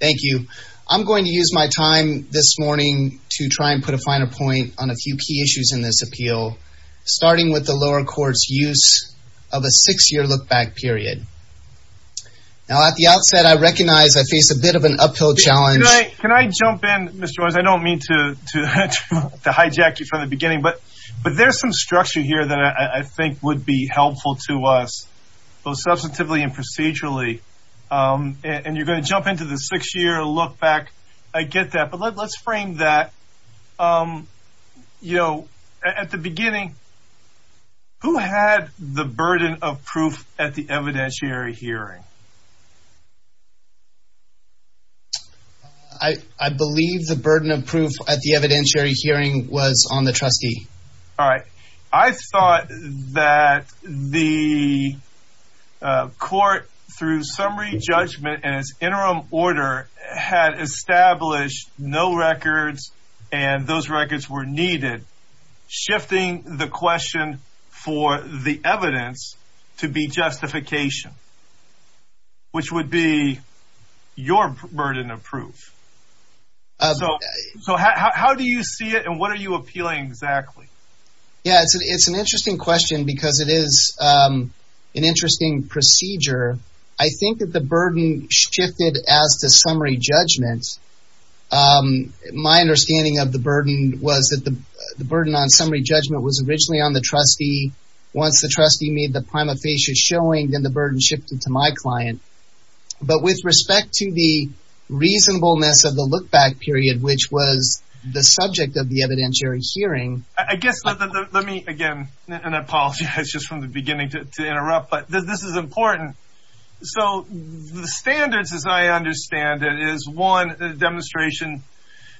Thank you. I'm going to use my time this morning to try and put a finer point on a few key issues in this appeal, starting with the lower court's use of a six-year look-back period. Now at the outset I recognize I face a bit of an uphill challenge. Can I jump in, Mr. Owens? I don't mean to hijack you from the beginning, but there's some structure here that I think would be helpful to us, both substantively and procedurally, and you're going to jump into the six-year look-back. I get that, but let's frame that, you know, at the beginning, who had the burden of proof at the evidentiary hearing? I believe the burden of proof at the evidentiary hearing was on the trustee. All right. I thought that the court, through summary judgment and its interim order, had established no records and those records were needed, shifting the question for the evidence to be justification, which would be your burden of proof. So how do you see it and what are you appealing exactly? Yeah, it's an interesting question because it is an interesting procedure. I think that the burden shifted as to summary judgment. My understanding of the burden was that the burden on summary judgment was originally on the trustee. Once the trustee made the prima facie showing, then the burden shifted to my client, but with respect to the reasonableness of the look-back period, which was the subject of the evidentiary hearing. I guess, let me again, and I apologize just from the beginning to interrupt, but this is important. So the standards, as I understand it, is one, the demonstration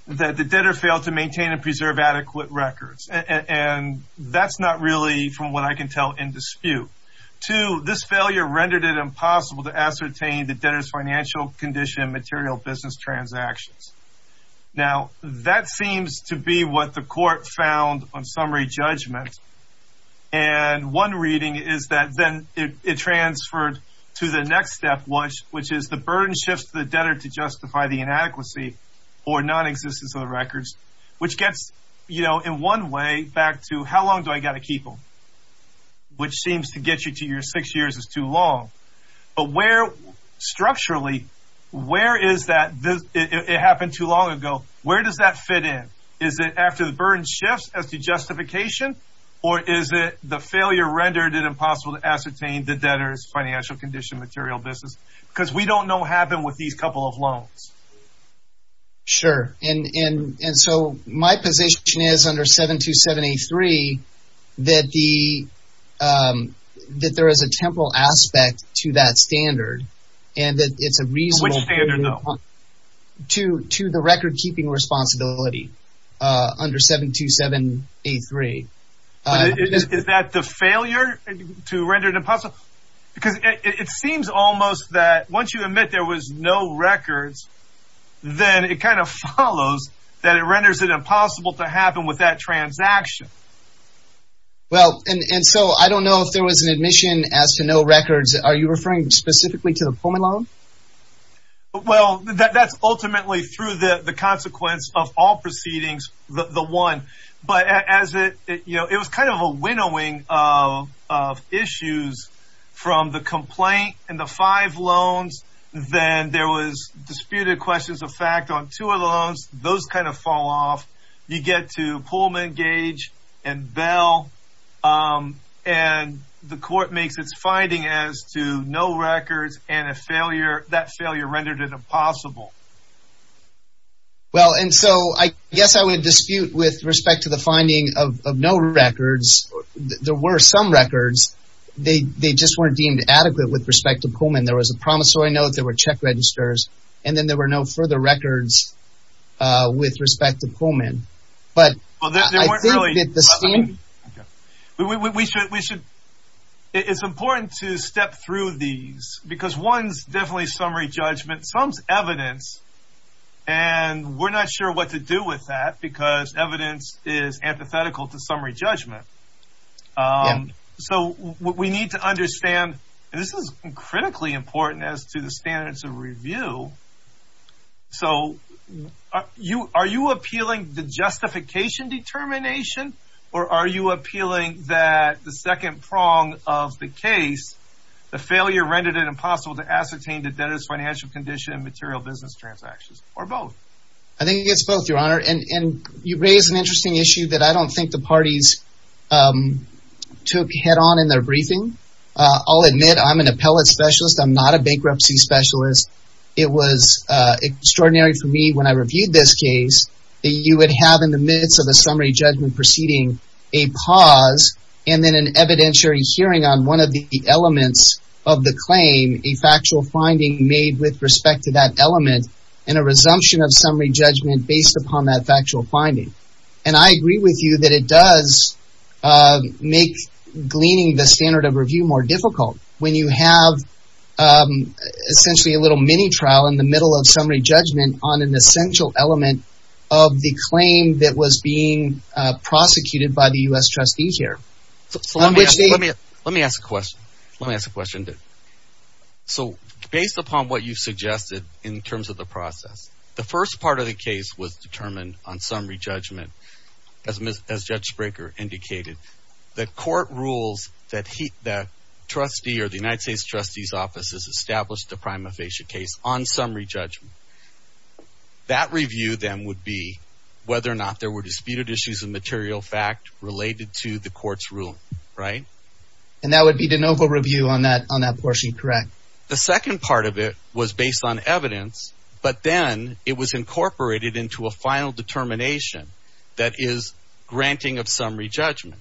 that the debtor failed to maintain and preserve adequate records, and that's not really from what I can tell in dispute. Two, this failure rendered it impossible to ascertain the debtor's financial condition and material business transactions. Now, that seems to be what the court found on summary judgment, and one reading is that then it transferred to the next step, which is the burden shifts the debtor to justify the inadequacy or non-existence of the records, which gets, you know, in one way back to how long do I got to get you to your six years is too long. But where, structurally, where is that, it happened too long ago, where does that fit in? Is it after the burden shifts as the justification, or is it the failure rendered it impossible to ascertain the debtor's financial condition material business? Because we don't know what happened with these couple of loans. Sure, and so my position is under 72783 that the, that there is a temporal aspect to that standard, and that it's a reasonable to the record-keeping responsibility under 72783. Is that the failure to render it impossible? Because it seems almost that once you admit there was no records, then it kind of follows that it renders it impossible to happen with that transaction. Well, and so I don't know if there was an admission as to no records, are you referring specifically to the Pullman loan? Well, that's ultimately through the consequence of all proceedings, the one, but as it, you know, it was kind of a winnowing of issues from the complaint and the five loans, then there was disputed questions of fact on two of the loans, those kind of fall off. You get to Pullman, Gage, and Bell, and the court makes its finding as to no records and a failure, that failure rendered it impossible. Well, and so I guess I would dispute with respect to the finding of no records, there were some records, they just weren't deemed adequate with respect to Pullman. There was a promissory note, there were check registers, and then there were no further records with respect to Pullman, but we should, it's important to step through these, because one's definitely summary judgment, some's evidence, and we're not sure what to do with that, because evidence is antithetical to summary judgment. So what we need to understand, this is critically important as to the So, you, are you appealing the justification determination, or are you appealing that the second prong of the case, the failure rendered it impossible to ascertain the debtor's financial condition and material business transactions, or both? I think it's both, your honor, and you raise an interesting issue that I don't think the parties took head-on in their briefing. I'll admit I'm an appellate specialist, I'm not a bankruptcy specialist. It was extraordinary for me when I reviewed this case, that you would have in the midst of a summary judgment proceeding, a pause, and then an evidentiary hearing on one of the elements of the claim, a factual finding made with respect to that element, and a resumption of summary judgment based upon that factual finding. And I agree with you that it does make gleaning the standard of review more difficult when you have essentially a little mini-trial in the middle of summary judgment on an essential element of the claim that was being prosecuted by the U.S. trustee here. Let me ask a question. Let me ask a question. So, based upon what you've suggested in terms of the process, the first part of the case was determined on summary judgment, as Judge Spraker indicated. The court rules that the trustee or the United States trustee's office has established a prima facie case on summary judgment. That review then would be whether or not there were disputed issues of material fact related to the court's ruling, right? And that would be de novo review on that on that portion, correct? The second part of it was based on evidence, but then it was incorporated into a final determination that is granting of summary judgment.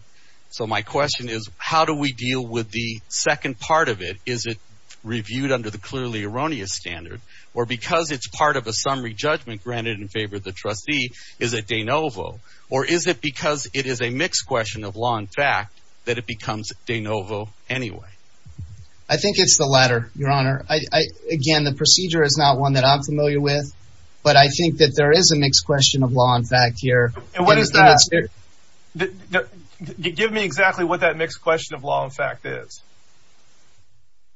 So, my question is, how do we deal with the second part of it? Is it reviewed under the clearly erroneous standard, or because it's part of a summary judgment granted in favor of the trustee, is it de novo? Or is it because it is a mixed question of law and fact that it becomes de novo anyway? I think it's the latter, Your Honor. Again, the procedure is not one that I'm familiar with, but I think that there is a mixed question of law and fact here. And what is that? Give me exactly what that mixed question of law and fact is.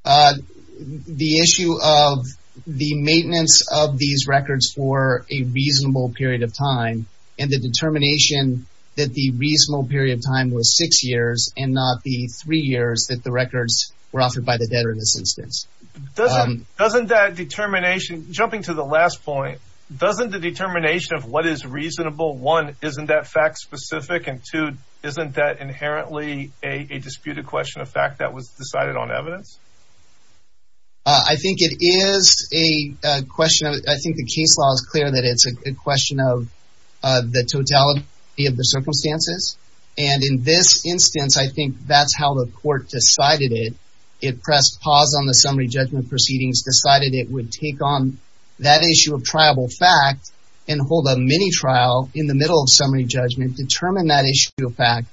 The issue of the maintenance of these records for a reasonable period of time, and the determination that the reasonable period of time was six years, and not the three years that the records were offered by the debtor in this instance. Doesn't that determination, jumping to the last point, doesn't the determination of what is reasonable, one, isn't that fact specific, and two, isn't that inherently a disputed question of fact that was decided on evidence? I think it is a question of, I think the case law is clear that it's a question of the totality of the circumstances. And in this instance, I think that's how the court decided it. It pressed pause on the summary judgment proceedings, decided it would take on that issue of triable fact, and hold a mini trial in the middle of summary judgment, determine that issue of fact,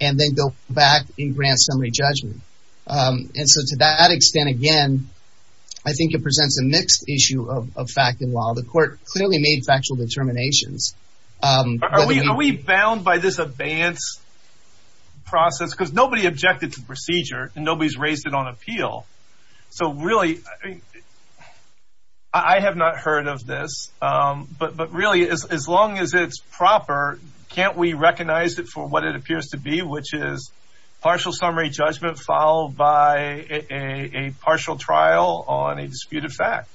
and then go back and grant summary judgment. And so to that extent, again, I think it presents a mixed issue of fact and law. The court clearly made factual determinations. Are we bound by this abeyance process? Because nobody objected to the procedure, and nobody's raised it on appeal. So really, I have not heard of this, but really, as long as it's proper, can't we recognize it for what it appears to be, which is partial summary judgment followed by a partial trial on a disputed fact?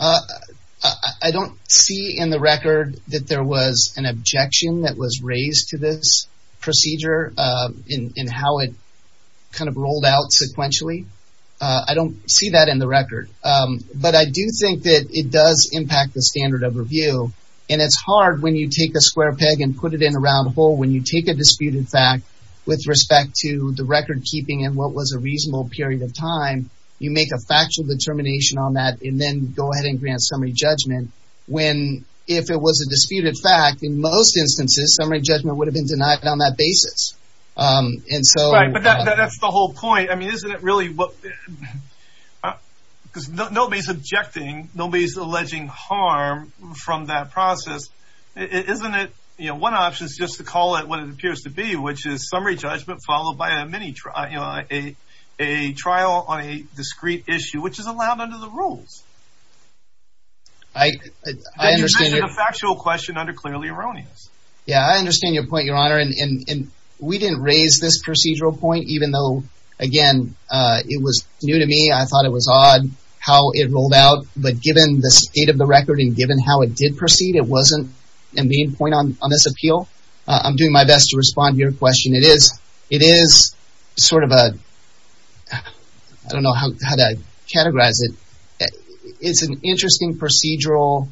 I don't see in the record that there was an objection that was raised to this procedure in how it kind of rolled out sequentially. I don't see that in the record. But I do think that it does impact the standard of review. And it's hard when you take a square peg and put it in a round hole, when you take a disputed fact with respect to the record-keeping and what was a reasonable period of time, you make a factual determination on that, and then go ahead and grant summary judgment. When, if it was a disputed fact, in most instances, summary judgment would have been denied on that basis. And so... Right, but that's the whole point. I mean, isn't it really what... because nobody's objecting, nobody's alleging harm from that process. Isn't it, you know, one option is just to call it what it appears to be, which is summary judgment followed by a mini trial, you know, a trial on a discreet issue, which is allowed under the rules. I understand... Yeah, I understand your point, Your Honor. And we didn't raise this procedural point, even though, again, it was new to me. I thought it was odd how it rolled out. But given the state of the record, and given how it did proceed, it wasn't a main point on this appeal. I'm doing my best to respond to your question. It is, it is sort of a... I don't know how to categorize it. It's an interesting procedural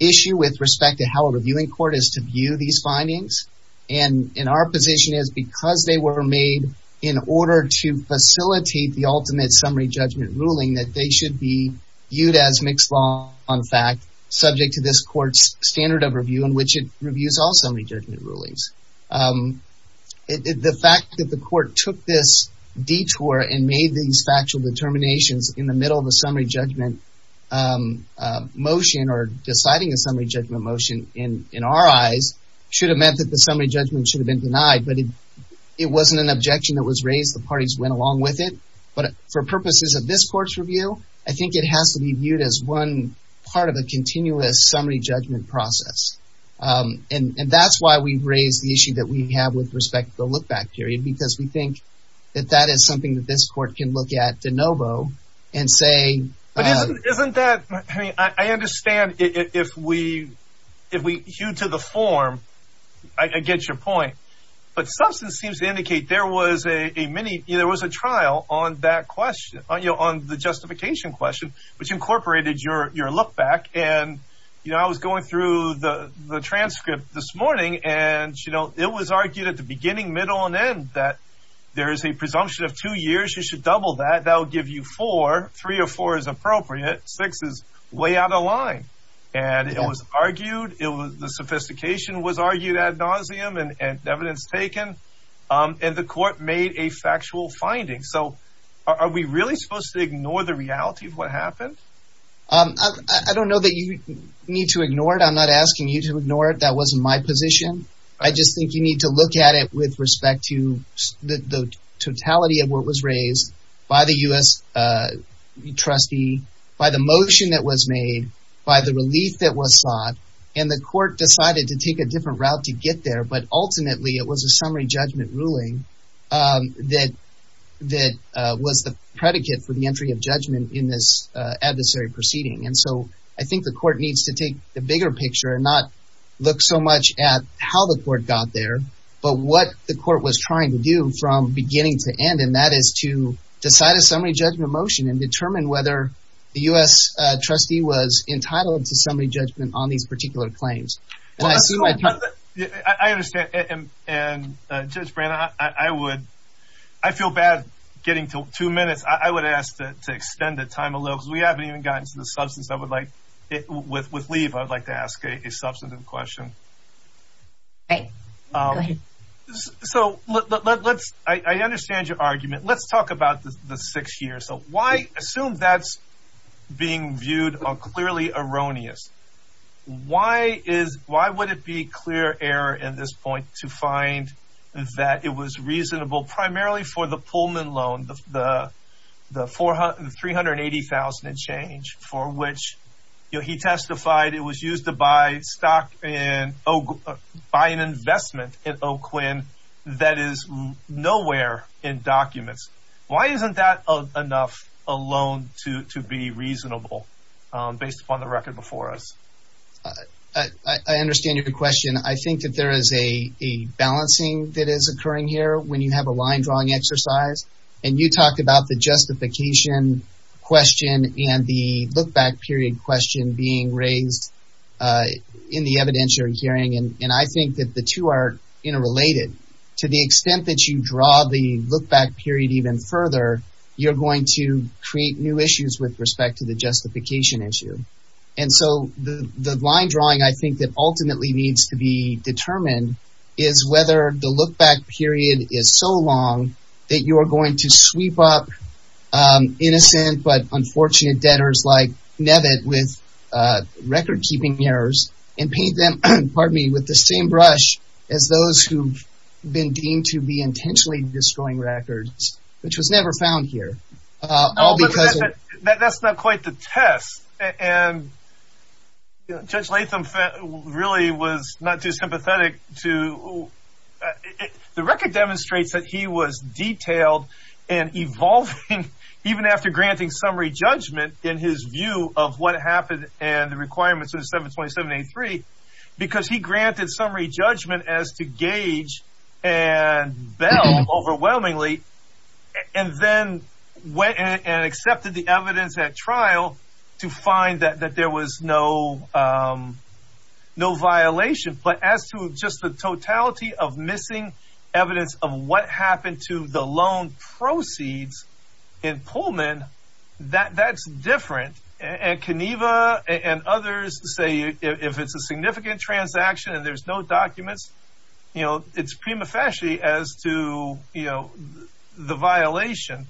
issue with respect to how a reviewing court is to view these findings. And in our position is, because they were made in order to facilitate the ultimate summary judgment ruling, that they should be viewed as mixed law, on fact, subject to this court's standard of review, in which it reviews all summary judgment rulings. The fact that the court took this detour and made these factual determinations in the middle of a summary judgment motion, or deciding a summary judgment motion, in our eyes, should have meant that the summary judgment should have been denied. But it wasn't an objection that was raised. The parties went along with it. But for purposes of this court's review, I think it has to be viewed as one part of a continuous summary judgment process. And that's why we've raised the issue that we have with respect to the I think that that is something that this court can look at de novo and say... But isn't that, I mean, I understand if we, if we hew to the form, I get your point, but substance seems to indicate there was a mini, there was a trial on that question, on the justification question, which incorporated your look-back. And, you know, I was going through the the transcript this morning, and, you know, it was argued at the beginning, middle, and end that there is a presumption of two years, you should double that, that would give you four, three or four is appropriate, six is way out of line. And it was argued, it was, the sophistication was argued ad nauseum, and evidence taken, and the court made a factual finding. So are we really supposed to ignore the reality of what happened? I don't know that you need to ignore it. I'm not asking you to ignore it. That wasn't my position. I just think you need to look at it with respect to the totality of what was raised by the US trustee, by the motion that was made, by the relief that was sought, and the court decided to take a different route to get there. But ultimately, it was a summary judgment ruling that that was the predicate for the entry of judgment in this adversary proceeding. And so I think the court needs to take the bigger picture and not look so much at how the court got there, but what the court was trying to do from beginning to end, and that is to decide a summary judgment motion and determine whether the US trustee was entitled to summary judgment on these particular claims. I understand, and Judge Brand, I would, I feel bad getting to two minutes. I would ask to extend the time a little, because we haven't even gotten to the substance. I would like, with leave, I would like to ask a substantive question. So let's, I understand your argument. Let's talk about the six years. So why, assume that's being viewed on clearly erroneous. Why would it be clear error in this point to find that it was reasonable primarily for the Pullman loan, the $380,000 and change for which, you know, he testified it was used to buy stock and buy an investment in Oakland that is nowhere in documents. Why isn't that enough alone to be reasonable based upon the record before us? I understand your question. I think that there is a balancing that is occurring here when you have a line drawing exercise. And you talked about the justification question and the look back period question being raised in the evidentiary hearing. And I think that the two are interrelated to the extent that you draw the look back period even further, you're going to create new issues with respect to the justification issue. And so the line drawing, I think that ultimately needs to be determined is whether the look back period is so long that you're going to sweep up innocent but unfortunate debtors like Nebit with record keeping errors and paint them, pardon me, with the same brush as those who've been deemed to be intentionally destroying records, which was never found here. That's not quite the test. And Judge Latham really was not too sympathetic to the record demonstrates that he was detailed and evolving, even after granting summary judgment in his view of what happened and the requirements of the 727 83, because he granted summary judgment as to gauge and bell overwhelmingly, and then went and accepted the evidence at trial to find that there was no, no violation, but as to just the totality of missing evidence of what happened to the loan proceeds in Pullman, that that's different. And Keneva and others say, if it's a significant transaction, and there's no documents, you know, it's prima facie as to, you know, the violation.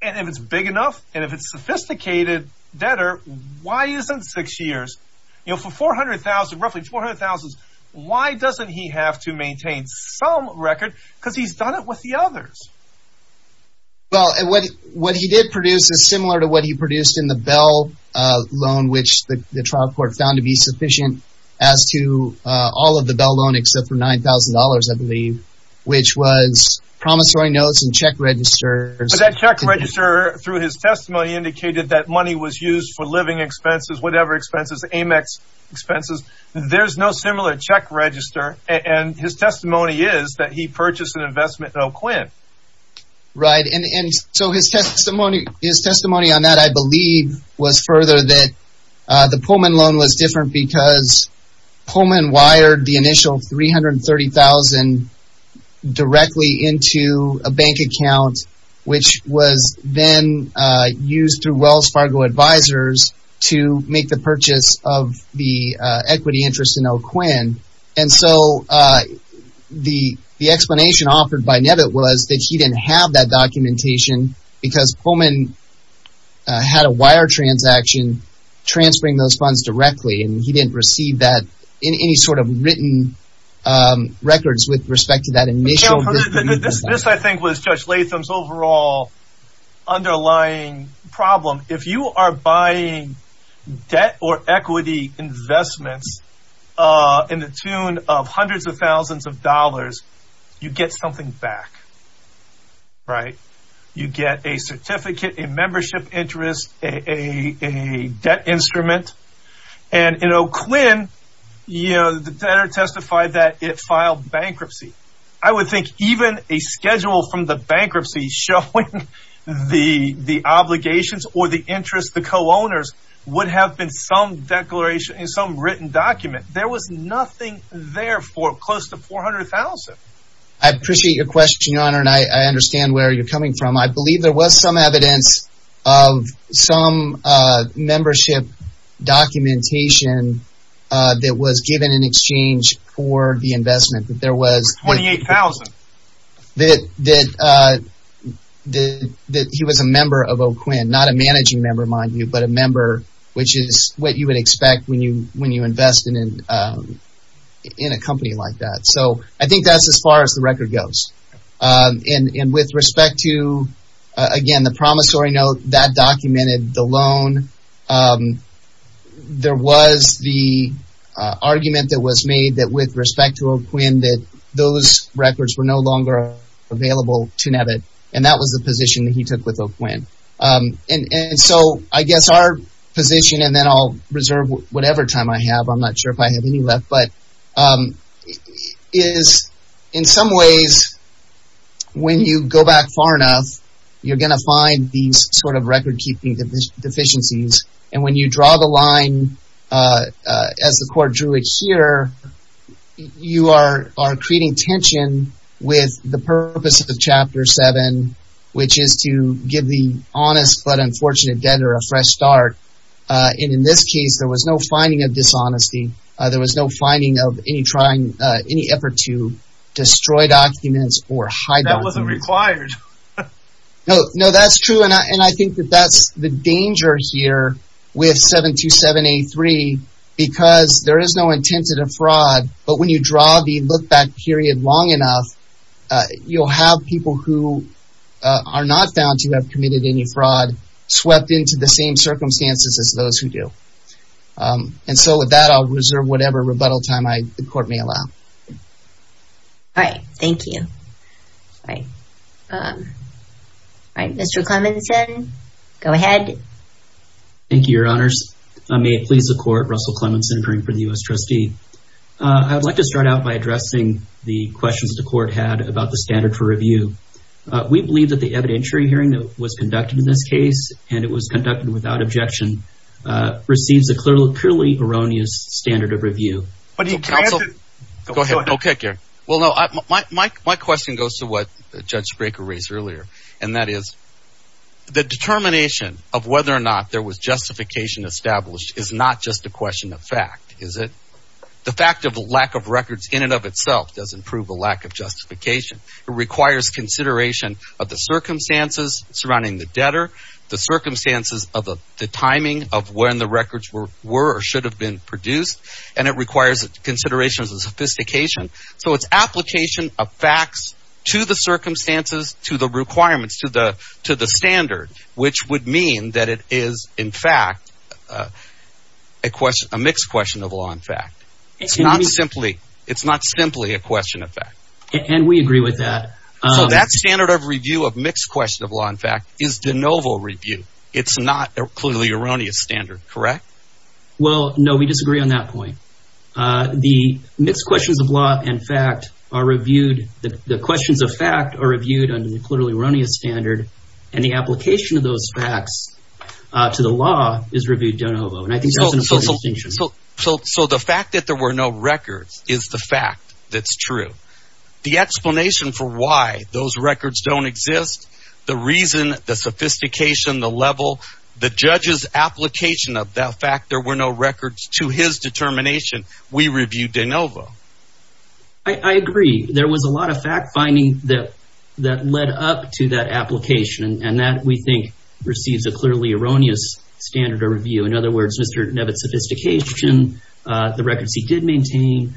And if it's big enough, and if it's sophisticated debtor, why isn't six years, you know, for 400,000, roughly 400,000? Why doesn't he have to maintain some record? Because he's done it with the others? Well, and what what he did produce is similar to what he produced in the bell loan, which the trial court found to be sufficient as to all of the bell loan, except for $9,000, I believe, which was promissory notes and check registers that check register through his testimony indicated that money was used for living expenses, whatever expenses, Amex expenses, there's no similar check register. And his testimony is that he purchased an investment. Oh, Quinn. Right. And so his testimony, his testimony on that, I believe, was further that the Pullman loan was different because Pullman wired the initial 330,000 directly into a bank account, which was then used through Wells Fargo advisors to make the purchase of the equity interest in Oh, Quinn. And so the the explanation offered by Nebit was that he didn't have that documentation, because Pullman had a wire transaction, transferring those funds directly, and he didn't receive that in any sort of written records with respect to that initial. This, I think, was Judge Latham's overall underlying problem. If you are buying debt or equity investments in the tune of hundreds of thousands of dollars, you get something back. Right. You get a certificate, a membership interest, a debt instrument. And, you know, Quinn, you know, the debtor testified that it filed bankruptcy. I would think even a schedule from the bankruptcy showing the the obligations or the interest, the co-owners would have been some declaration in some written document. There was nothing there for close to 400,000. I appreciate your question, Your Honor, and I understand where you're coming from. I documentation that was given in exchange for the investment that there was 28,000 that that that he was a member of Oh, Quinn, not a managing member, mind you, but a member, which is what you would expect when you when you invest in in a company like that. So I think that's as far as the record goes. And with respect to, again, the promissory note that documented the loan, there was the argument that was made that with respect to Quinn, that those records were no longer available to NABIT. And that was the position that he took with Quinn. And so I guess our position and then I'll reserve whatever time I have. I'm not sure if I have any left, but is in some ways, when you go back far enough, you're going to find these sort of record keeping deficiencies. And when you draw the line, as the court drew it here, you are are creating tension with the purpose of the Chapter 7, which is to give the honest but unfortunate debtor a fresh start. And in this case, there was no finding of destroyed documents or hideout. That wasn't required. No, no, that's true. And I think that that's the danger here with 72783, because there is no intent to defraud. But when you draw the look back period long enough, you'll have people who are not found to have committed any fraud swept into the same circumstances as those who do. And so with that, I'll reserve whatever rebuttal time the court may allow. All right. Thank you. All right. Mr. Clemmonson, go ahead. Thank you, Your Honors. May it please the court, Russell Clemmonson, interning for the U.S. Trustee. I'd like to start out by addressing the questions the court had about the standard for review. We believe that the evidentiary hearing that was conducted in this case, and it was conducted without objection, receives a clearly erroneous standard of review. But he can't. Go ahead. OK, Gary. Well, no, my question goes to what Judge Spraker raised earlier, and that is the determination of whether or not there was justification established is not just a question of fact, is it? The fact of the lack of records in and of itself doesn't prove a lack of justification. It requires consideration of the circumstances surrounding the debtor, the circumstances of the timing of when the records were or should have been produced. And it requires a consideration of the sophistication. So it's application of facts to the circumstances, to the requirements, to the to the standard, which would mean that it is, in fact, a question, a mixed question of law and fact. It's not simply it's not simply a question of fact. And we agree with that. So that standard of review of mixed question of law and fact is de novo review. It's not a clearly erroneous standard, correct? Well, no, we disagree on that point. The mixed questions of law and fact are reviewed. The questions of fact are reviewed under the clearly erroneous standard. And the application of those facts to the law is reviewed de novo. And I think so. So the fact that there were no records is the fact that's true. The explanation for why those records don't exist, the reason, the sophistication, the level, the judge's application of that fact, there were no records to his determination. We reviewed de novo. I agree. There was a lot of fact finding that that led up to that application and that we think receives a clearly erroneous standard of review. In other words, Mr. Nevitt's sophistication, the records he did maintain,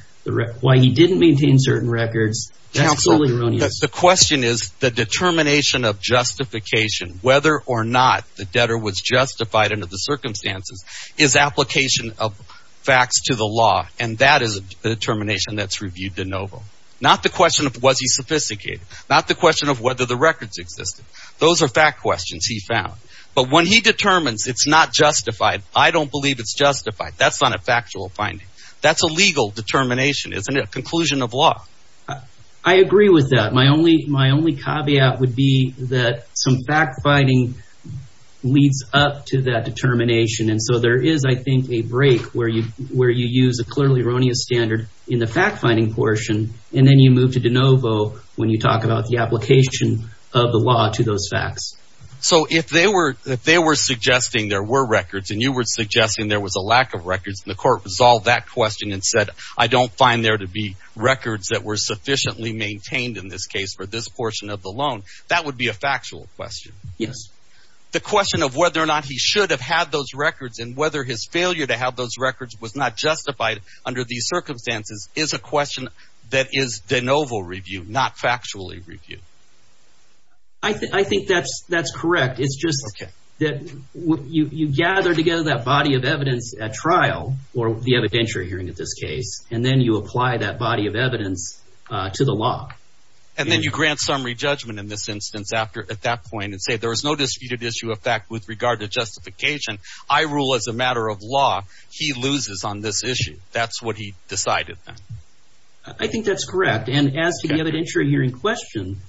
why he didn't maintain certain records, absolutely erroneous. The question is the determination of justification, whether or not the debtor was justified under the circumstances, his application of facts to the law. And that is the determination that's reviewed de novo, not the question of was he sophisticated, not the question of whether the records existed. Those are fact questions he found. But when he determines it's not justified, I don't believe it's justified. That's not a factual finding. That's a legal determination. Isn't it a conclusion of law? I agree with that. My only my only caveat would be that some fact finding leads up to that determination. And so there is, I think, a break where you where you use a clearly erroneous standard in the fact finding portion. And then you move to de novo when you talk about the application of the law to those facts. So if they were if they were suggesting there were records and you were suggesting there was a lack of records, the court resolved that question and said, I believe that the records were sufficiently maintained in this case for this portion of the loan. That would be a factual question. Yes. The question of whether or not he should have had those records and whether his failure to have those records was not justified under these circumstances is a question that is de novo review, not factually review. I think that's that's correct. It's just that you gather together that body of evidence at trial or the evidentiary hearing of this case, and then you apply that body of evidence. To the law. And then you grant summary judgment in this instance after at that point and say there is no disputed issue of fact with regard to justification. I rule as a matter of law. He loses on this issue. That's what he decided. I think that's correct. And as to the evidentiary hearing question,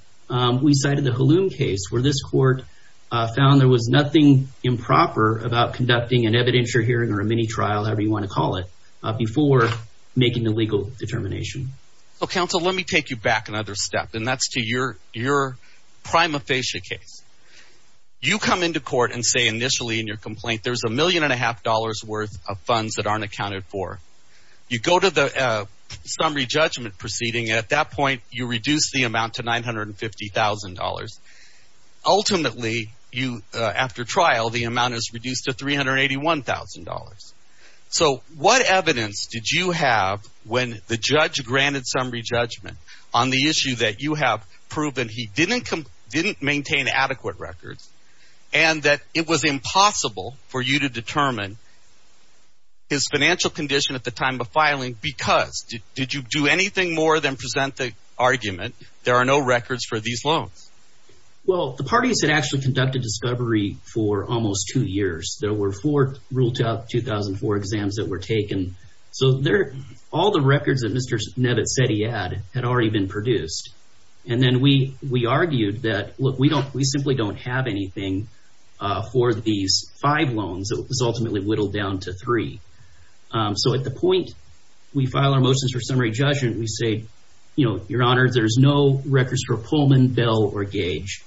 we cited the Halum case where this court found there was nothing improper about conducting an evidentiary hearing or a mini trial, however you want to call it, before making the legal determination. So, counsel, let me take you back another step, and that's to your your prima facie case. You come into court and say initially in your complaint there's a million and a half dollars worth of funds that aren't accounted for. You go to the summary judgment proceeding. At that point, you reduce the amount to nine hundred and fifty thousand dollars. Ultimately, you after trial, the amount is reduced to three hundred eighty one thousand dollars. So what evidence did you have when the judge granted summary judgment on the issue that you have proven he didn't didn't maintain adequate records and that it was impossible for you to determine his financial condition at the time of filing? Because did you do anything more than present the argument? There are no records for these loans. Well, the parties had actually conducted discovery for almost two years. There were four ruled out 2004 exams that were taken. So there are all the records that Mr. Nebit said he had had already been produced. And then we we argued that we don't we simply don't have anything for these five loans. It was ultimately whittled down to three. So at the point we file our motions for summary judgment, we say, you know, your honors, there's no records for Pullman, Bell or Gage.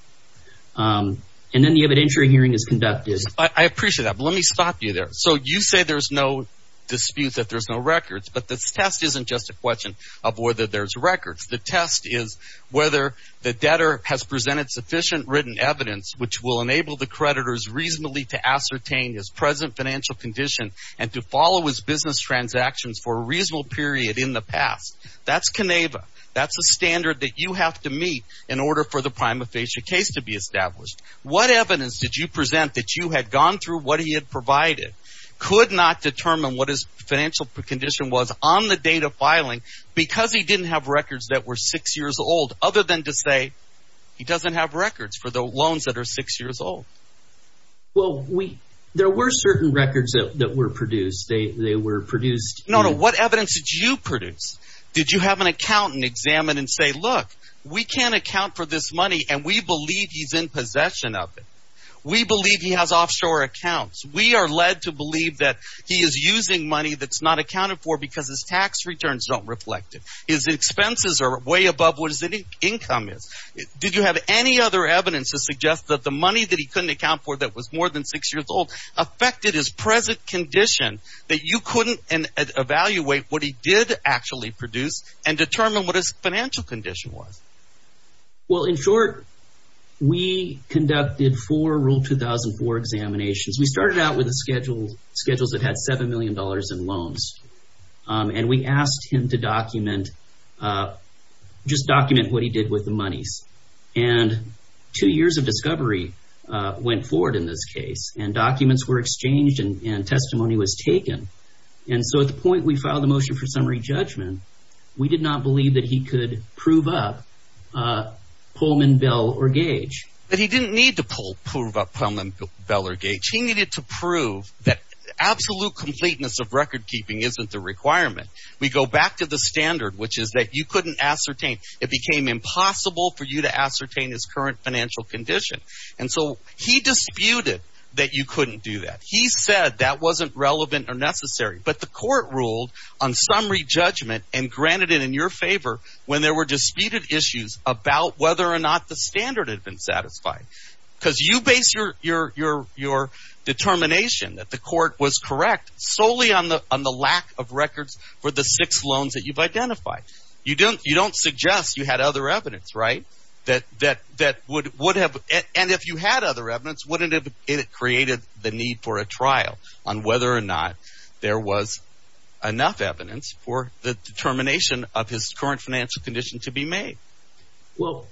And then the evidentiary hearing is conducted. I appreciate that. Let me stop you there. So you say there's no dispute that there's no records, but this test isn't just a question of whether there's records. The test is whether the debtor has presented sufficient written evidence which will enable the creditors reasonably to ascertain his present financial condition and to follow his business transactions for a reasonable period in the past. That's Koneva. That's a standard that you have to meet in order for the prima facie case to be established. What evidence did you present that you had gone through what he had provided? Could not determine what his financial condition was on the date of filing because he didn't have records that were six years old, other than to say he doesn't have records for the loans that are six years old. Well, we there were certain records that were produced, they were produced. No, no. What evidence did you produce? Did you have an accountant examine and say, look, we can't account for this money and we believe he's in possession of it. We believe he has offshore accounts. We are led to believe that he is using money that's not accounted for because his tax returns don't reflect it. His expenses are way above what his income is. Did you have any other evidence to suggest that the money that he couldn't account for that was more than six years old affected his present condition, that you couldn't evaluate what he did actually produce and determine what his financial condition was? Well, in short, we conducted four rule 2004 examinations. We started out with a schedule, schedules that had seven million dollars in loans. And we asked him to document, just document what he did with the monies. And two years of discovery went forward in this case and documents were exchanged and testimony was taken. And so at the point we filed the motion for summary judgment, we did not believe that he could prove up Pullman, Bell or Gage. But he didn't need to prove up Pullman, Bell or Gage. He needed to prove that absolute completeness of record keeping isn't the requirement. We go back to the standard, which is that you couldn't ascertain. It became impossible for you to ascertain his current financial condition. And so he disputed that you couldn't do that. He said that wasn't relevant or necessary. But the court ruled on summary judgment and granted it in your favor when there were disputed issues about whether or not the standard had been satisfied because you base your determination that the court was correct solely on the on the lack of records for the six loans that you've identified. You don't you don't suggest you had other evidence. Right. That that that would would have. And if you had other evidence, wouldn't it created the need for a trial on whether or not there was enough evidence for the determination of his current financial condition to be made? Well,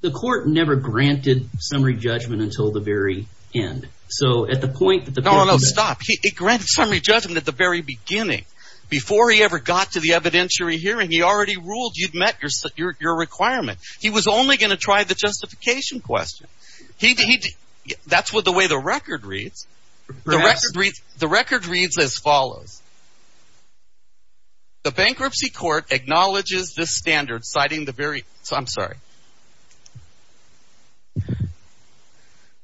the court never granted summary judgment until the very end. So at the point that the. No, no, stop. He granted summary judgment at the very beginning before he ever got to the evidentiary hearing. He already ruled you'd met your your requirement. He was only going to try the justification question. He did. That's what the way the record reads. The record reads. The record reads as follows. The bankruptcy court acknowledges this standard, citing the very. I'm sorry.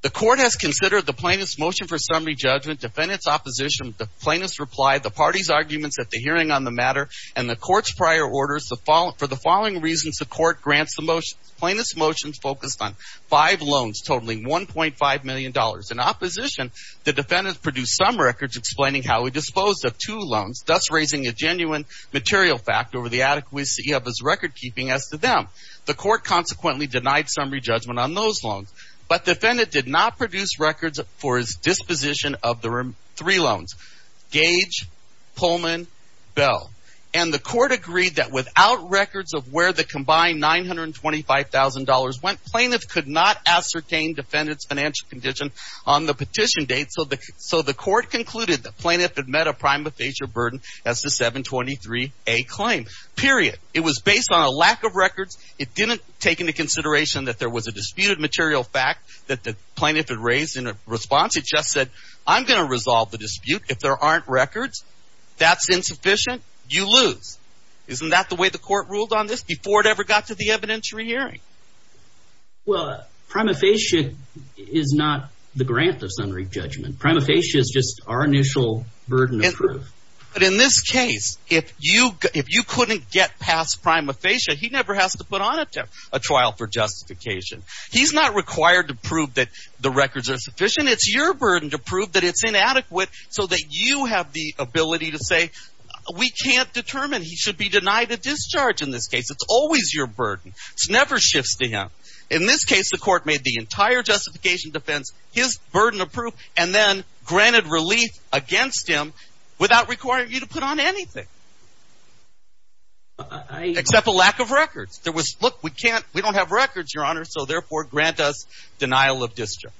The court has considered the plaintiff's motion for summary judgment, defendant's opposition, the plaintiff's reply, the party's arguments at the hearing on the matter and the court's prior orders to fall for the following reasons. The court grants the most plaintiff's motions focused on five loans, totaling one point five million dollars in opposition. The defendant produced some records explaining how he disposed of two loans, thus raising a genuine material fact over the adequacy of his record keeping as to them. The court consequently denied summary judgment on those loans. But the defendant did not produce records for his disposition of the three loans. Gage, Pullman, Bell. And the court agreed that without records of where the combined nine hundred and twenty five thousand dollars went, plaintiff could not ascertain defendant's financial condition on the petition date. So the so the court concluded the plaintiff had met a prima facie burden as the seven twenty three a claim period. It was based on a lack of records. It didn't take into consideration that there was a disputed material fact that the plaintiff had raised in a response. It just said, I'm going to resolve the dispute if there aren't records. That's insufficient. You lose. Isn't that the way the court ruled on this before it ever got to the evidentiary hearing? Well, prima facie is not the grant of summary judgment. Prima facie is just our initial burden. But in this case, if you if you couldn't get past prima facie, he never has to put on a trial for justification. He's not required to prove that the records are sufficient. It's your burden to prove that it's inadequate so that you have the ability to say we can't determine he should be denied a discharge in this case. It's always your burden. It's never shifts to him. In this case, the court made the entire justification defense, his burden of proof, and then granted relief against him without requiring you to put on anything. I accept a lack of records. There was look, we can't we don't have records, Your Honor. So therefore, grant us denial of district.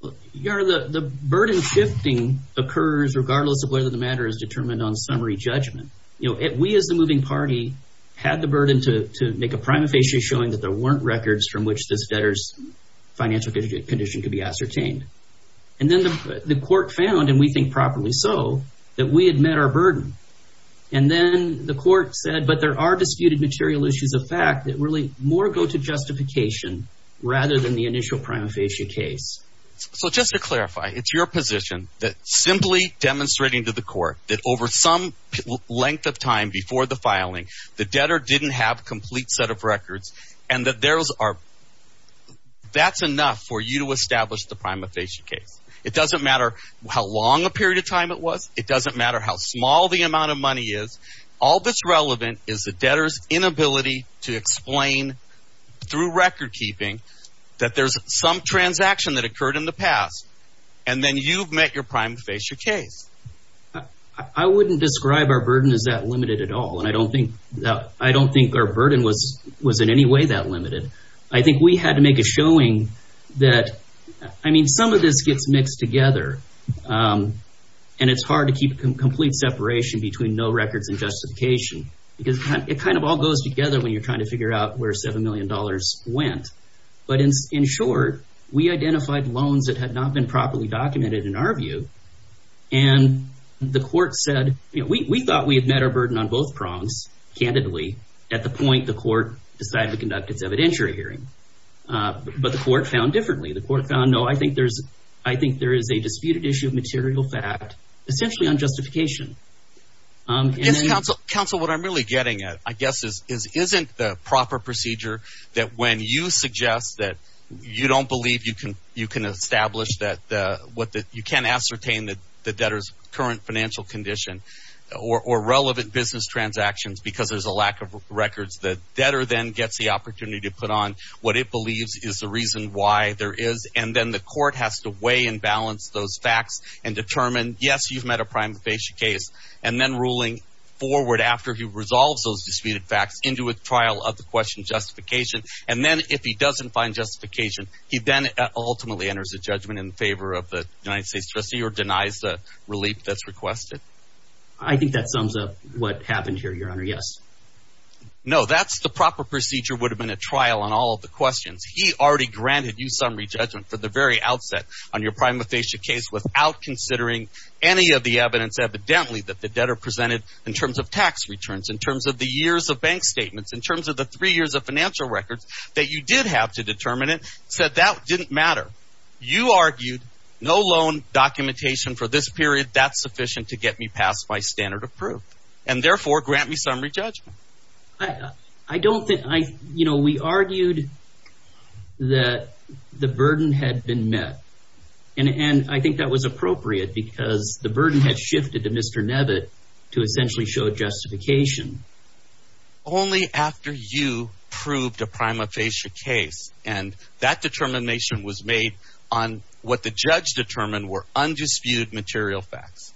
Well, the burden shifting occurs regardless of whether the matter is determined on summary judgment. We, as the moving party, had the burden to make a prima facie showing that there weren't records from which this debtor's financial condition could be ascertained. And then the court found, and we think properly so, that we had met our burden. And then the court said, but there are disputed material issues of fact that really more go to justification rather than the initial prima facie case. So just to clarify, it's your position that simply demonstrating to the court that over some length of time before the filing, the debtor didn't have a complete set of records and that there's are that's enough for you to establish the prima facie case. It doesn't matter how long a period of time it was. It doesn't matter how small the amount of money is. All that's relevant is the debtor's inability to explain through recordkeeping that there's some transaction that occurred in the past and then you've met your prima facie case. I wouldn't describe our burden as that limited at all. And I don't think that I don't think our burden was was in any way that limited. I think we had to make a showing that I mean, some of this gets mixed together and it's hard to keep a complete separation between no records and justification because it kind of all goes together when you're trying to figure out where seven million dollars went. But in short, we identified loans that had not been properly documented in our view. And the court said we thought we had met our burden on both prongs candidly at the point the court decided to conduct its evidentiary hearing. But the court found differently. The court found, no, I think there's I think there is a disputed issue of material fact essentially on justification. Yes, counsel. Counsel, what I'm really getting at, I guess, is isn't the proper procedure that when you suggest that you don't believe you can you can establish that what you can ascertain that the debtor's current financial condition or relevant business transactions because there's a lack of records, the debtor then gets the opportunity to put on what it believes is the reason why there is. And then the court has to weigh and balance those facts and determine, yes, you've met a prime case and then ruling forward after he resolves those disputed facts into a trial of the question justification. And then if he doesn't find justification, he then ultimately enters a judgment in favor of the United States trustee or denies the relief that's requested. I think that sums up what happened here, Your Honor. Yes. No, that's the proper procedure would have been a trial on all of the questions. He already granted you summary judgment for the very outset on your prima facie case without considering any of the evidence evidently that the debtor presented in terms of tax returns, in terms of the years of bank statements, in terms of the three years of financial records that you did have to determine it, said that didn't matter. You argued no loan documentation for this period. That's sufficient to get me past my standard of proof and therefore grant me summary judgment. I don't think I you know, we argued that the burden had been met and I think that was appropriate because the burden has shifted to Mr. Nevitt to essentially show justification. Only after you proved a prima facie case and that determination was made on what the judge determined were undisputed material facts.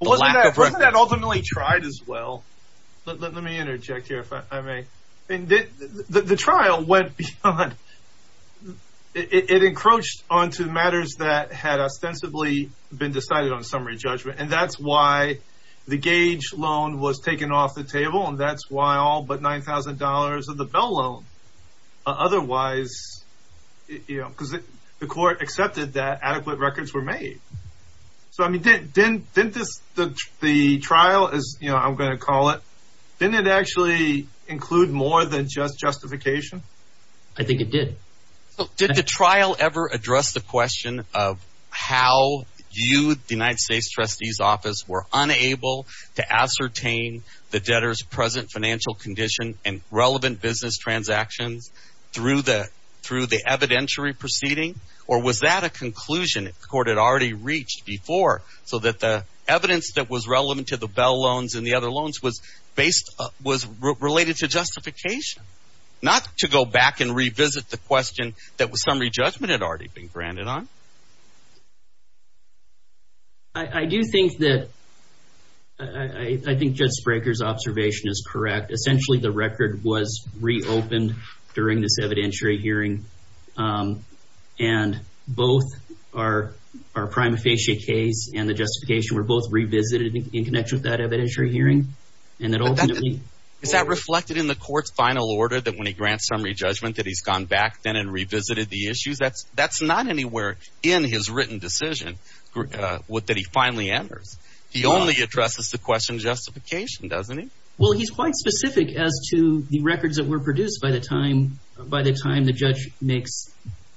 Wasn't that ultimately tried as well? Let me interject here, if I may. And the trial went beyond, it encroached onto matters that had ostensibly been decided on summary judgment. And that's why the gauge loan was taken off the table. And that's why all but nine thousand dollars of the Bell loan otherwise, you know, because the court accepted that adequate records were made. So, I mean, didn't didn't this the the trial is, you know, I'm going to call it, didn't it actually include more than just justification? I think it did. Did the trial ever address the question of how you, the United States trustee's office, were unable to ascertain the debtor's present financial condition and relevant business transactions through the through the evidentiary proceeding? Or was that a conclusion that the court had already reached before so that the evidence that was relevant to the Bell loans and the other loans was based was related to justification, not to go back and revisit the question that was summary judgment had already been granted on? I do think that I think Judge Spraker's observation is correct. Essentially, the record was reopened during this evidentiary hearing. And both are our prima facie case and the justification were both revisited in connection with that evidentiary hearing. And that ultimately is that reflected in the court's final order that when he grants summary judgment, that he's gone back then and revisited the issues. That's that's not anywhere in his written decision that he finally enters. He only addresses the question of justification, doesn't he? Well, he's quite specific as to the records that were produced by the time by the time the judge makes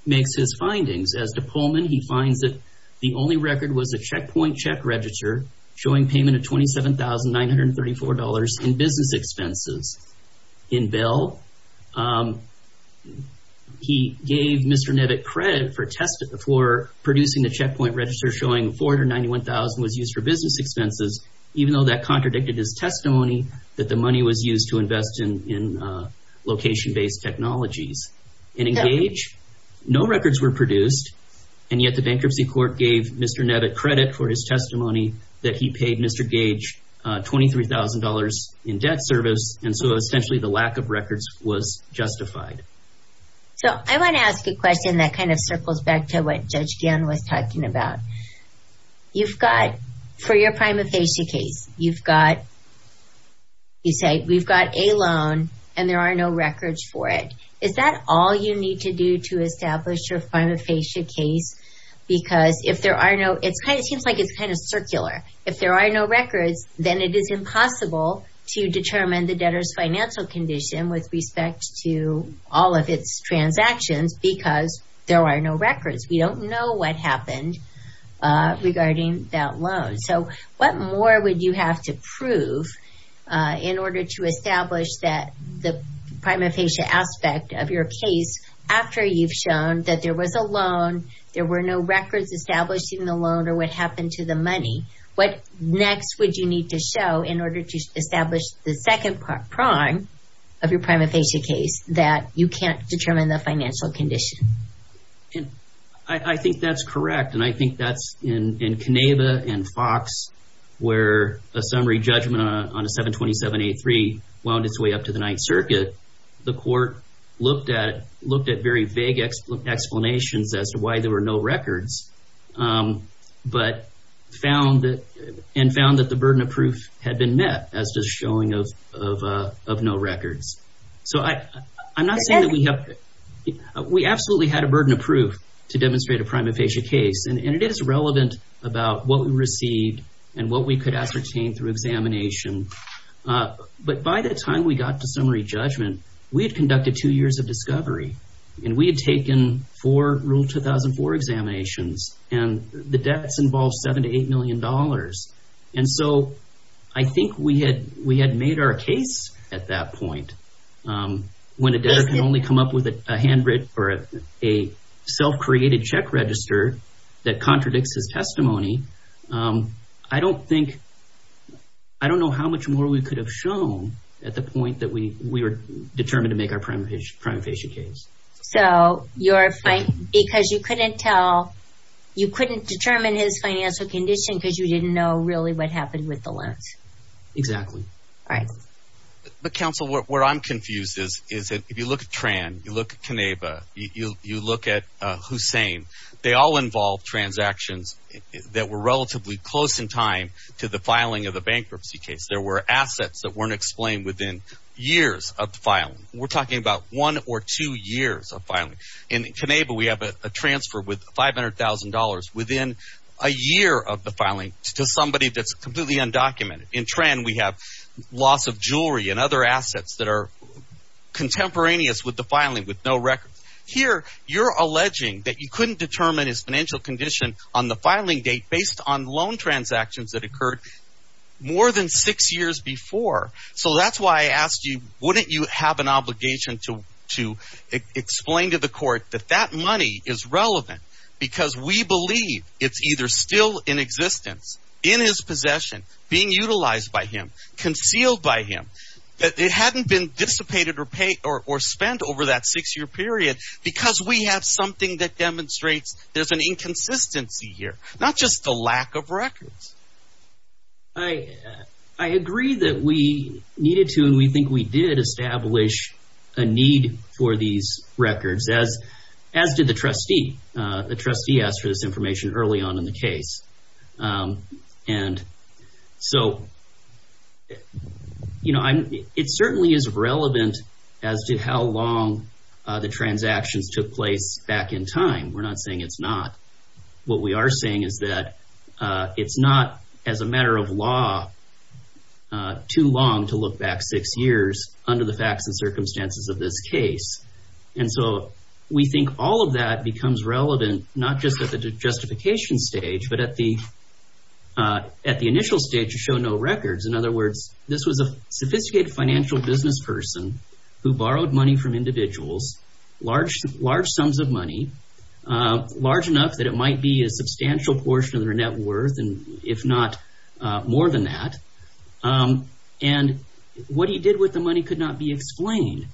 his findings. As to Pullman, he finds that the only record was a checkpoint check register showing payment of $27,934 in business expenses. In Bell, he gave Mr. Nevic credit for producing the checkpoint register showing $491,000 was used for business expenses, even though that contradicted his testimony that the money was used to invest in location-based technologies. And in Gage, no records were produced. And yet the bankruptcy court gave Mr. Nevic credit for his testimony that he paid Mr. Gage $23,000 in debt service. And so essentially the lack of records was justified. So I want to ask a question that kind of circles back to what Judge Gann was talking about. You've got for your prima facie case, you've got. You say we've got a loan and there are no records for it. Is that all you need to do to establish your prima facie case? Because if there are no, it's kind of seems like it's kind of circular. If there are no records, then it is impossible to determine the debtor's financial condition with respect to all of its transactions because there are no records. We don't know what happened regarding that loan. So what more would you have to prove in order to establish that the prima facie aspect of your case after you've shown that there was a loan, there were no records established in the loan or what happened to the money? What next would you need to show in order to establish the second prime of your prima facie case that you can't determine the financial condition? And I think that's correct. And I think that's in Keneva and Fox, where a summary judgment on a 727-83 wound its way up to the Ninth Circuit. The court looked at very vague explanations as to why there were no records, but found that and found that the burden of proof had been met as just showing of no records. So I'm not saying that we have, we absolutely had a burden of proof to demonstrate a prima facie case. And it is relevant about what we received and what we could ascertain through a summary judgment. We had conducted two years of discovery and we had taken four Rule 2004 examinations and the debts involved seven to eight million dollars. And so I think we had made our case at that point. When a debtor can only come up with a handwritten or a self-created check register that contradicts his testimony. I don't think, I don't know how much more we could have shown at the point that we were determined to make our prima facie case. So you're fine because you couldn't tell, you couldn't determine his financial condition because you didn't know really what happened with the loans. Exactly. But counsel, what I'm confused is, is that if you look at Tran, you look at Keneva, you look at Hussein, they all involve transactions that were relatively close in time to the filing of the bankruptcy case. There were assets that weren't explained within years of the filing. We're talking about one or two years of filing. In Keneva, we have a transfer with five hundred thousand dollars within a year of the filing to somebody that's completely undocumented. In Tran, we have loss of jewelry and other assets that are contemporaneous with the filing with no records. Here, you're alleging that you couldn't determine his financial condition on the before. So that's why I asked you, wouldn't you have an obligation to to explain to the court that that money is relevant because we believe it's either still in existence, in his possession, being utilized by him, concealed by him, that it hadn't been dissipated or spent over that six year period because we have something that demonstrates there's an inconsistency here, not just the lack of records. I agree that we needed to, and we think we did, establish a need for these records, as did the trustee. The trustee asked for this information early on in the case. And so, you know, it certainly is relevant as to how long the transactions took place back in time. We're not saying it's not. What we are saying is that it's not, as a matter of law, too long to look back six years under the facts and circumstances of this case. And so we think all of that becomes relevant, not just at the justification stage, but at the initial stage to show no records. In other words, this was a sophisticated financial business person who borrowed money from the trustee, knowing full well enough that it might be a substantial portion of their net worth, and if not more than that, and what he did with the money could not be explained.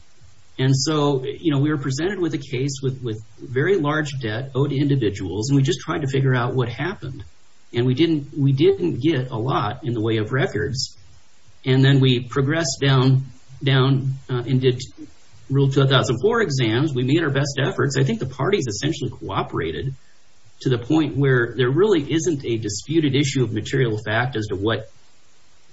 And so, you know, we were presented with a case with very large debt owed to individuals, and we just tried to figure out what happened. And we didn't get a lot in the way of records. And then we progressed down and did Rule 2004 exams. We made our best efforts. I think the parties essentially cooperated to the point where there really isn't a disputed issue of material fact as to what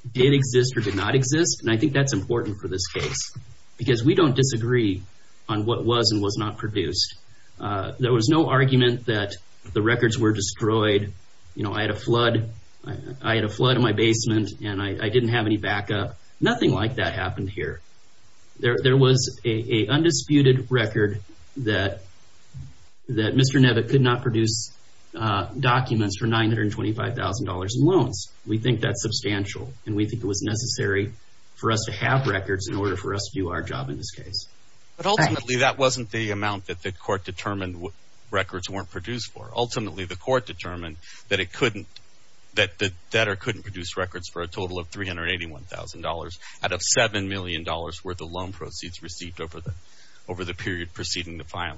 did exist or did not exist. And I think that's important for this case because we don't disagree on what was and was not produced. There was no argument that the records were destroyed. You know, I had a flood. I had a flood in my basement and I didn't have any backup. Nothing like that happened here. There was a undisputed record that that Mr. Nevitt could not produce documents for $925,000 in loans. We think that's substantial and we think it was necessary for us to have records in order for us to do our job in this case. But ultimately, that wasn't the amount that the court determined records weren't produced for. Ultimately, the court determined that it couldn't that the debtor couldn't produce records for a total of $381,000 out of $7 million worth of loan proceeds received over the over the period preceding the final.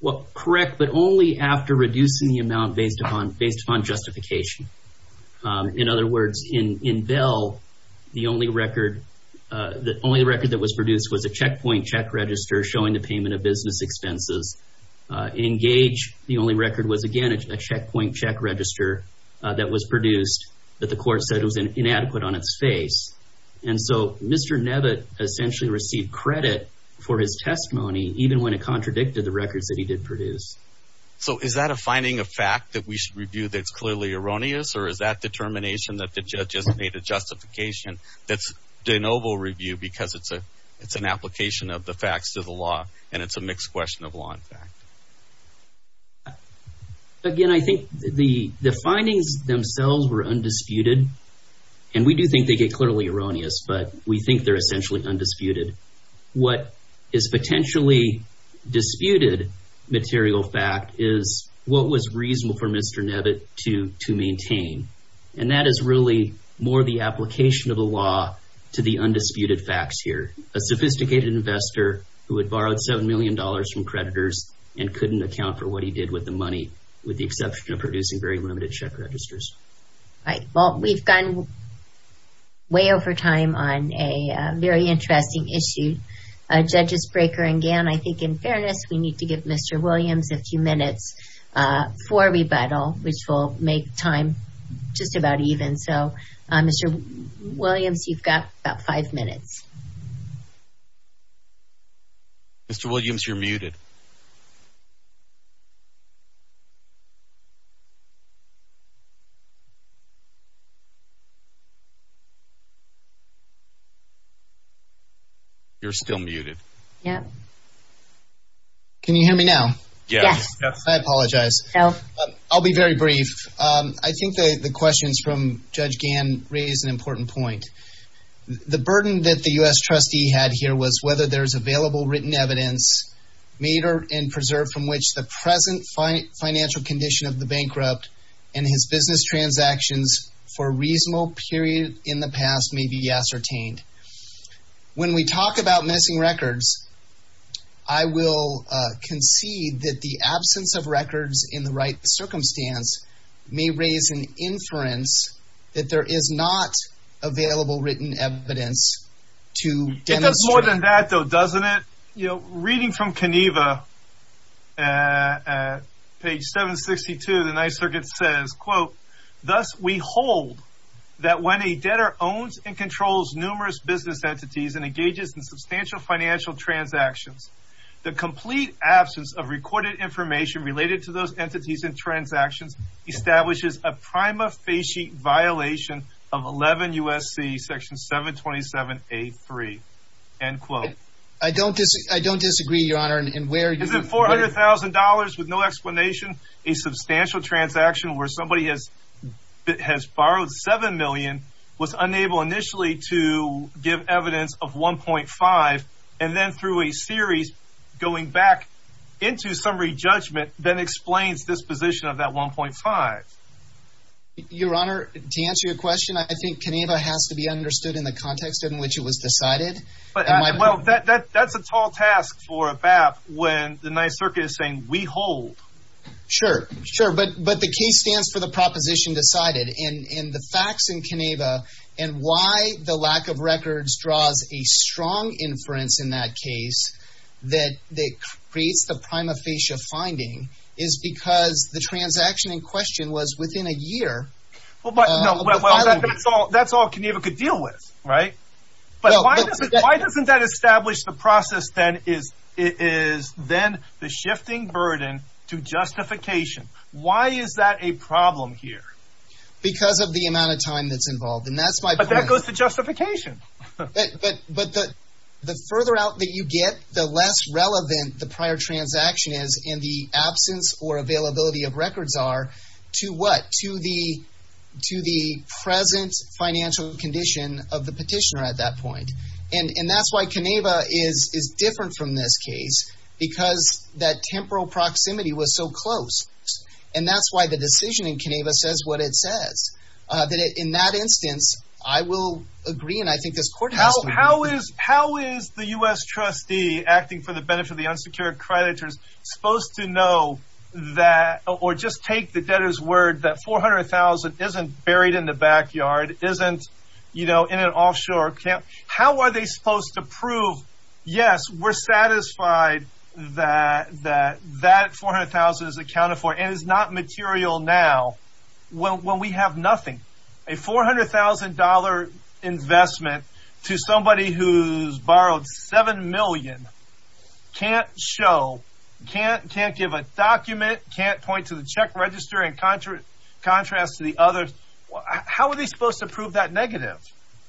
Well, correct, but only after reducing the amount based upon based on justification. In other words, in Bell, the only record, the only record that was produced was a checkpoint check register showing the payment of business expenses. In Gage, the only record was, again, a checkpoint check register that was produced that the court said was inadequate on its face. And so Mr. Nevitt essentially received credit for his testimony, even when it contradicted the records that he did produce. So is that a finding of fact that we should review that's clearly erroneous? Or is that determination that the judge has made a justification that's de novo review because it's a it's an application of the facts to the law and it's a mixed question of And we do think they get clearly erroneous, but we think they're essentially undisputed. What is potentially disputed material fact is what was reasonable for Mr. Nevitt to to maintain. And that is really more the application of the law to the undisputed facts here. A sophisticated investor who had borrowed $7 million from creditors and couldn't account for what he did with the money, with the exception of producing very limited check registers. All right, well, we've gone way over time on a very interesting issue. Judges Breaker and Gann, I think in fairness, we need to give Mr. Williams a few minutes for rebuttal, which will make time just about even. So, Mr. Williams, you've got about five minutes. Mr. Williams, you're muted. You're still muted. Yeah. Can you hear me now? Yes. I apologize. No, I'll be very brief. I think the questions from Judge Gann raise an important point. The burden that the U.S. trustee had here was whether there's available written evidence made or and preserved from business transactions for a reasonable period in the past may be ascertained. When we talk about missing records, I will concede that the absence of records in the right circumstance may raise an inference that there is not available written evidence to demonstrate. It does more than that, though, doesn't it? You know, reading from Keneva at page 762, the Ninth Circuit says, quote, Thus, we hold that when a debtor owns and controls numerous business entities and engages in substantial financial transactions, the complete absence of recorded information related to those entities and transactions establishes a prima facie violation of 11 U.S.C. Section 727 A3, end quote. I don't I don't disagree, Your Honor. And where is it? Four hundred thousand dollars with no explanation. A substantial transaction where somebody has has borrowed seven million was unable initially to give evidence of one point five and then through a series going back into summary judgment then explains disposition of that one point five. Your Honor, to answer your question, I think Keneva has to be understood in the context in which it was decided. But well, that's a tall task for a BAP when the Ninth Circuit is saying we hold. Sure, sure. But but the case stands for the proposition decided in the facts in Keneva and why the lack of records draws a strong inference in that case that that creates the prima facie finding is because the transaction in question was within a year. Well, but that's all that's all Keneva could deal with. Right. But why doesn't that establish the process then is it is then the shifting burden to justification. Why is that a problem here? Because of the amount of time that's involved. And that's why that goes to justification. But the further out that you get, the less relevant the prior transaction is in the absence or availability of records are to what to the to the present financial condition of the petitioner at that point. And that's why Keneva is is different from this case, because that temporal proximity was so close. And that's why the decision in Keneva says what it says. That in that instance, I will agree. And I think this court. How is how is the U.S. trustee acting for the benefit of the unsecured creditors supposed to know that or just take the debtor's word that 400000 isn't buried in the backyard? Isn't, you know, in an offshore camp. How are they supposed to prove? Yes, we're satisfied that that that 400000 is accounted for and is not material now. Well, when we have nothing, a 400000 dollar investment to somebody who's borrowed seven million can't show, can't can't give a document, can't point to the check register and contra contrast to the other. How are they supposed to prove that negative?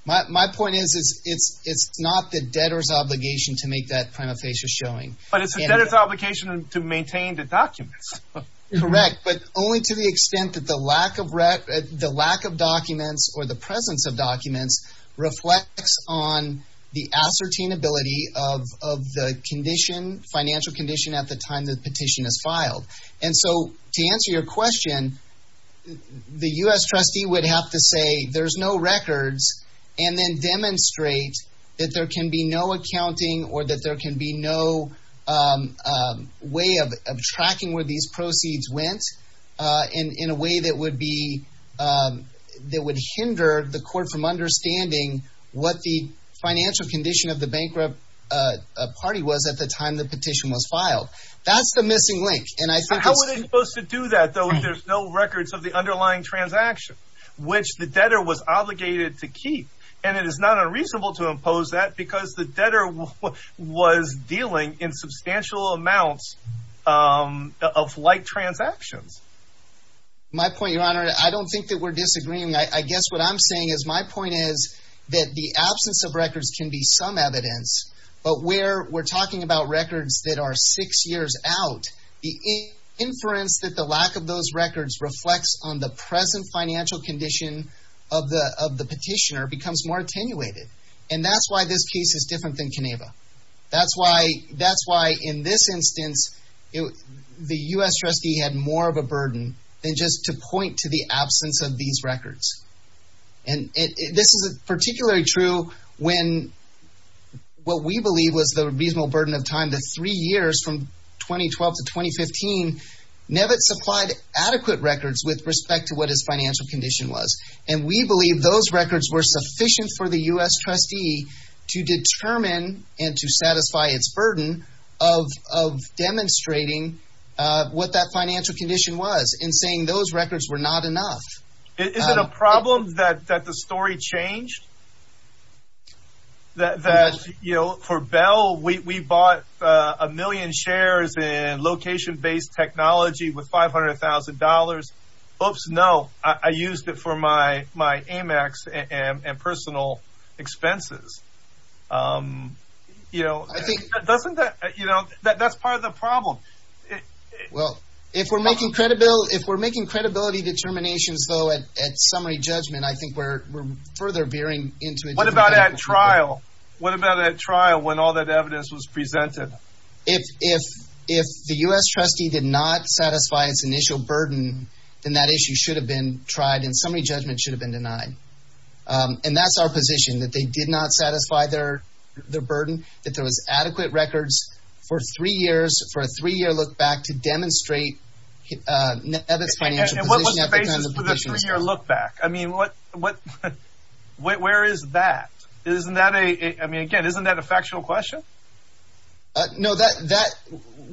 My point is, is it's it's not the debtor's obligation to make that prima facie showing. But it's a debtor's obligation to maintain the documents. Correct. But only to the extent that the lack of the lack of documents or the presence of documents reflects on the ascertain ability of of the condition financial condition at the time the petition is filed. And so to answer your question, the U.S. trustee would have to say there's no records and then demonstrate that there can be no accounting or that there can be no way of tracking where these proceeds went in a way that would be that would hinder the court from understanding what the financial condition of the bankrupt party was at the time the petition was filed. That's the missing link. And I think how are they supposed to do that, though, if there's no records of the underlying transaction, which the debtor was obligated to keep? And it is not unreasonable to impose that because the debtor was dealing in substantial amounts of like transactions. My point, your honor, I don't think that we're disagreeing, I guess what I'm saying is my point is that the absence of records can be some evidence, but where we're talking about records that are six years out, the inference that the lack of those records reflects on the present financial condition of the of the petitioner becomes more attenuated. And that's why this case is different than Keneva. That's why that's why in this instance, the U.S. trustee had more of a burden than just to point to the absence of these records. And this is particularly true when what we believe was the reasonable burden of time, the three years from 2012 to 2015, Nevit supplied adequate records with respect to what his financial condition was. And we believe those records were sufficient for the U.S. trustee to determine and to satisfy its burden of of demonstrating what that financial condition was and saying those records were not enough. Is it a problem that that the story changed? That, you know, for Bell, we bought a million shares in location based technology with five hundred thousand dollars. Oops, no, I used it for my my Amex and personal expenses. You know, I think that doesn't you know, that's part of the problem. Well, if we're making credibility, if we're making credibility determinations, though, at summary judgment, I think we're further veering into what about that trial? What about that trial when all that evidence was presented? If if if the U.S. trustee did not satisfy its initial burden, then that issue should have been tried and summary judgment should have been denied. And that's our position, that they did not satisfy their their burden, that there was a three year look back to demonstrate that it's financial. And what was the basis for the three year look back? I mean, what what where is that? Isn't that a I mean, again, isn't that a factual question? No, that that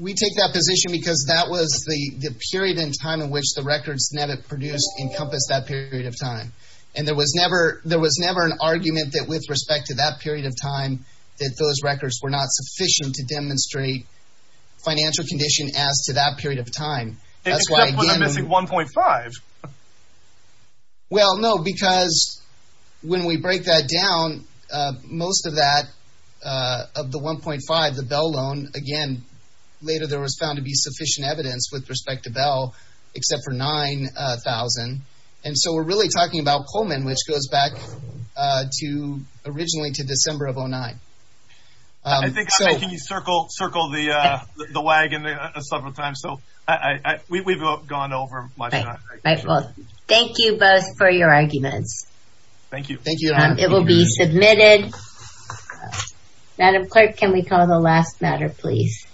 we take that position because that was the period in time in which the records that it produced encompassed that period of time. And there was never there was never an argument that with respect to that period of time that those records were not sufficient to demonstrate financial condition as to that period of time. That's why I'm missing one point five. Well, no, because when we break that down, most of that of the one point five, the Bell loan again, later there was found to be sufficient evidence with respect to Bell, except for nine thousand. And so we're really talking about Pullman, which goes back to originally to December of oh nine. I think I can circle circle the the wagon several times, so I we've gone over. Thank you both for your arguments. Thank you. Thank you. It will be submitted. Madam Clerk, can we call the last matter, please?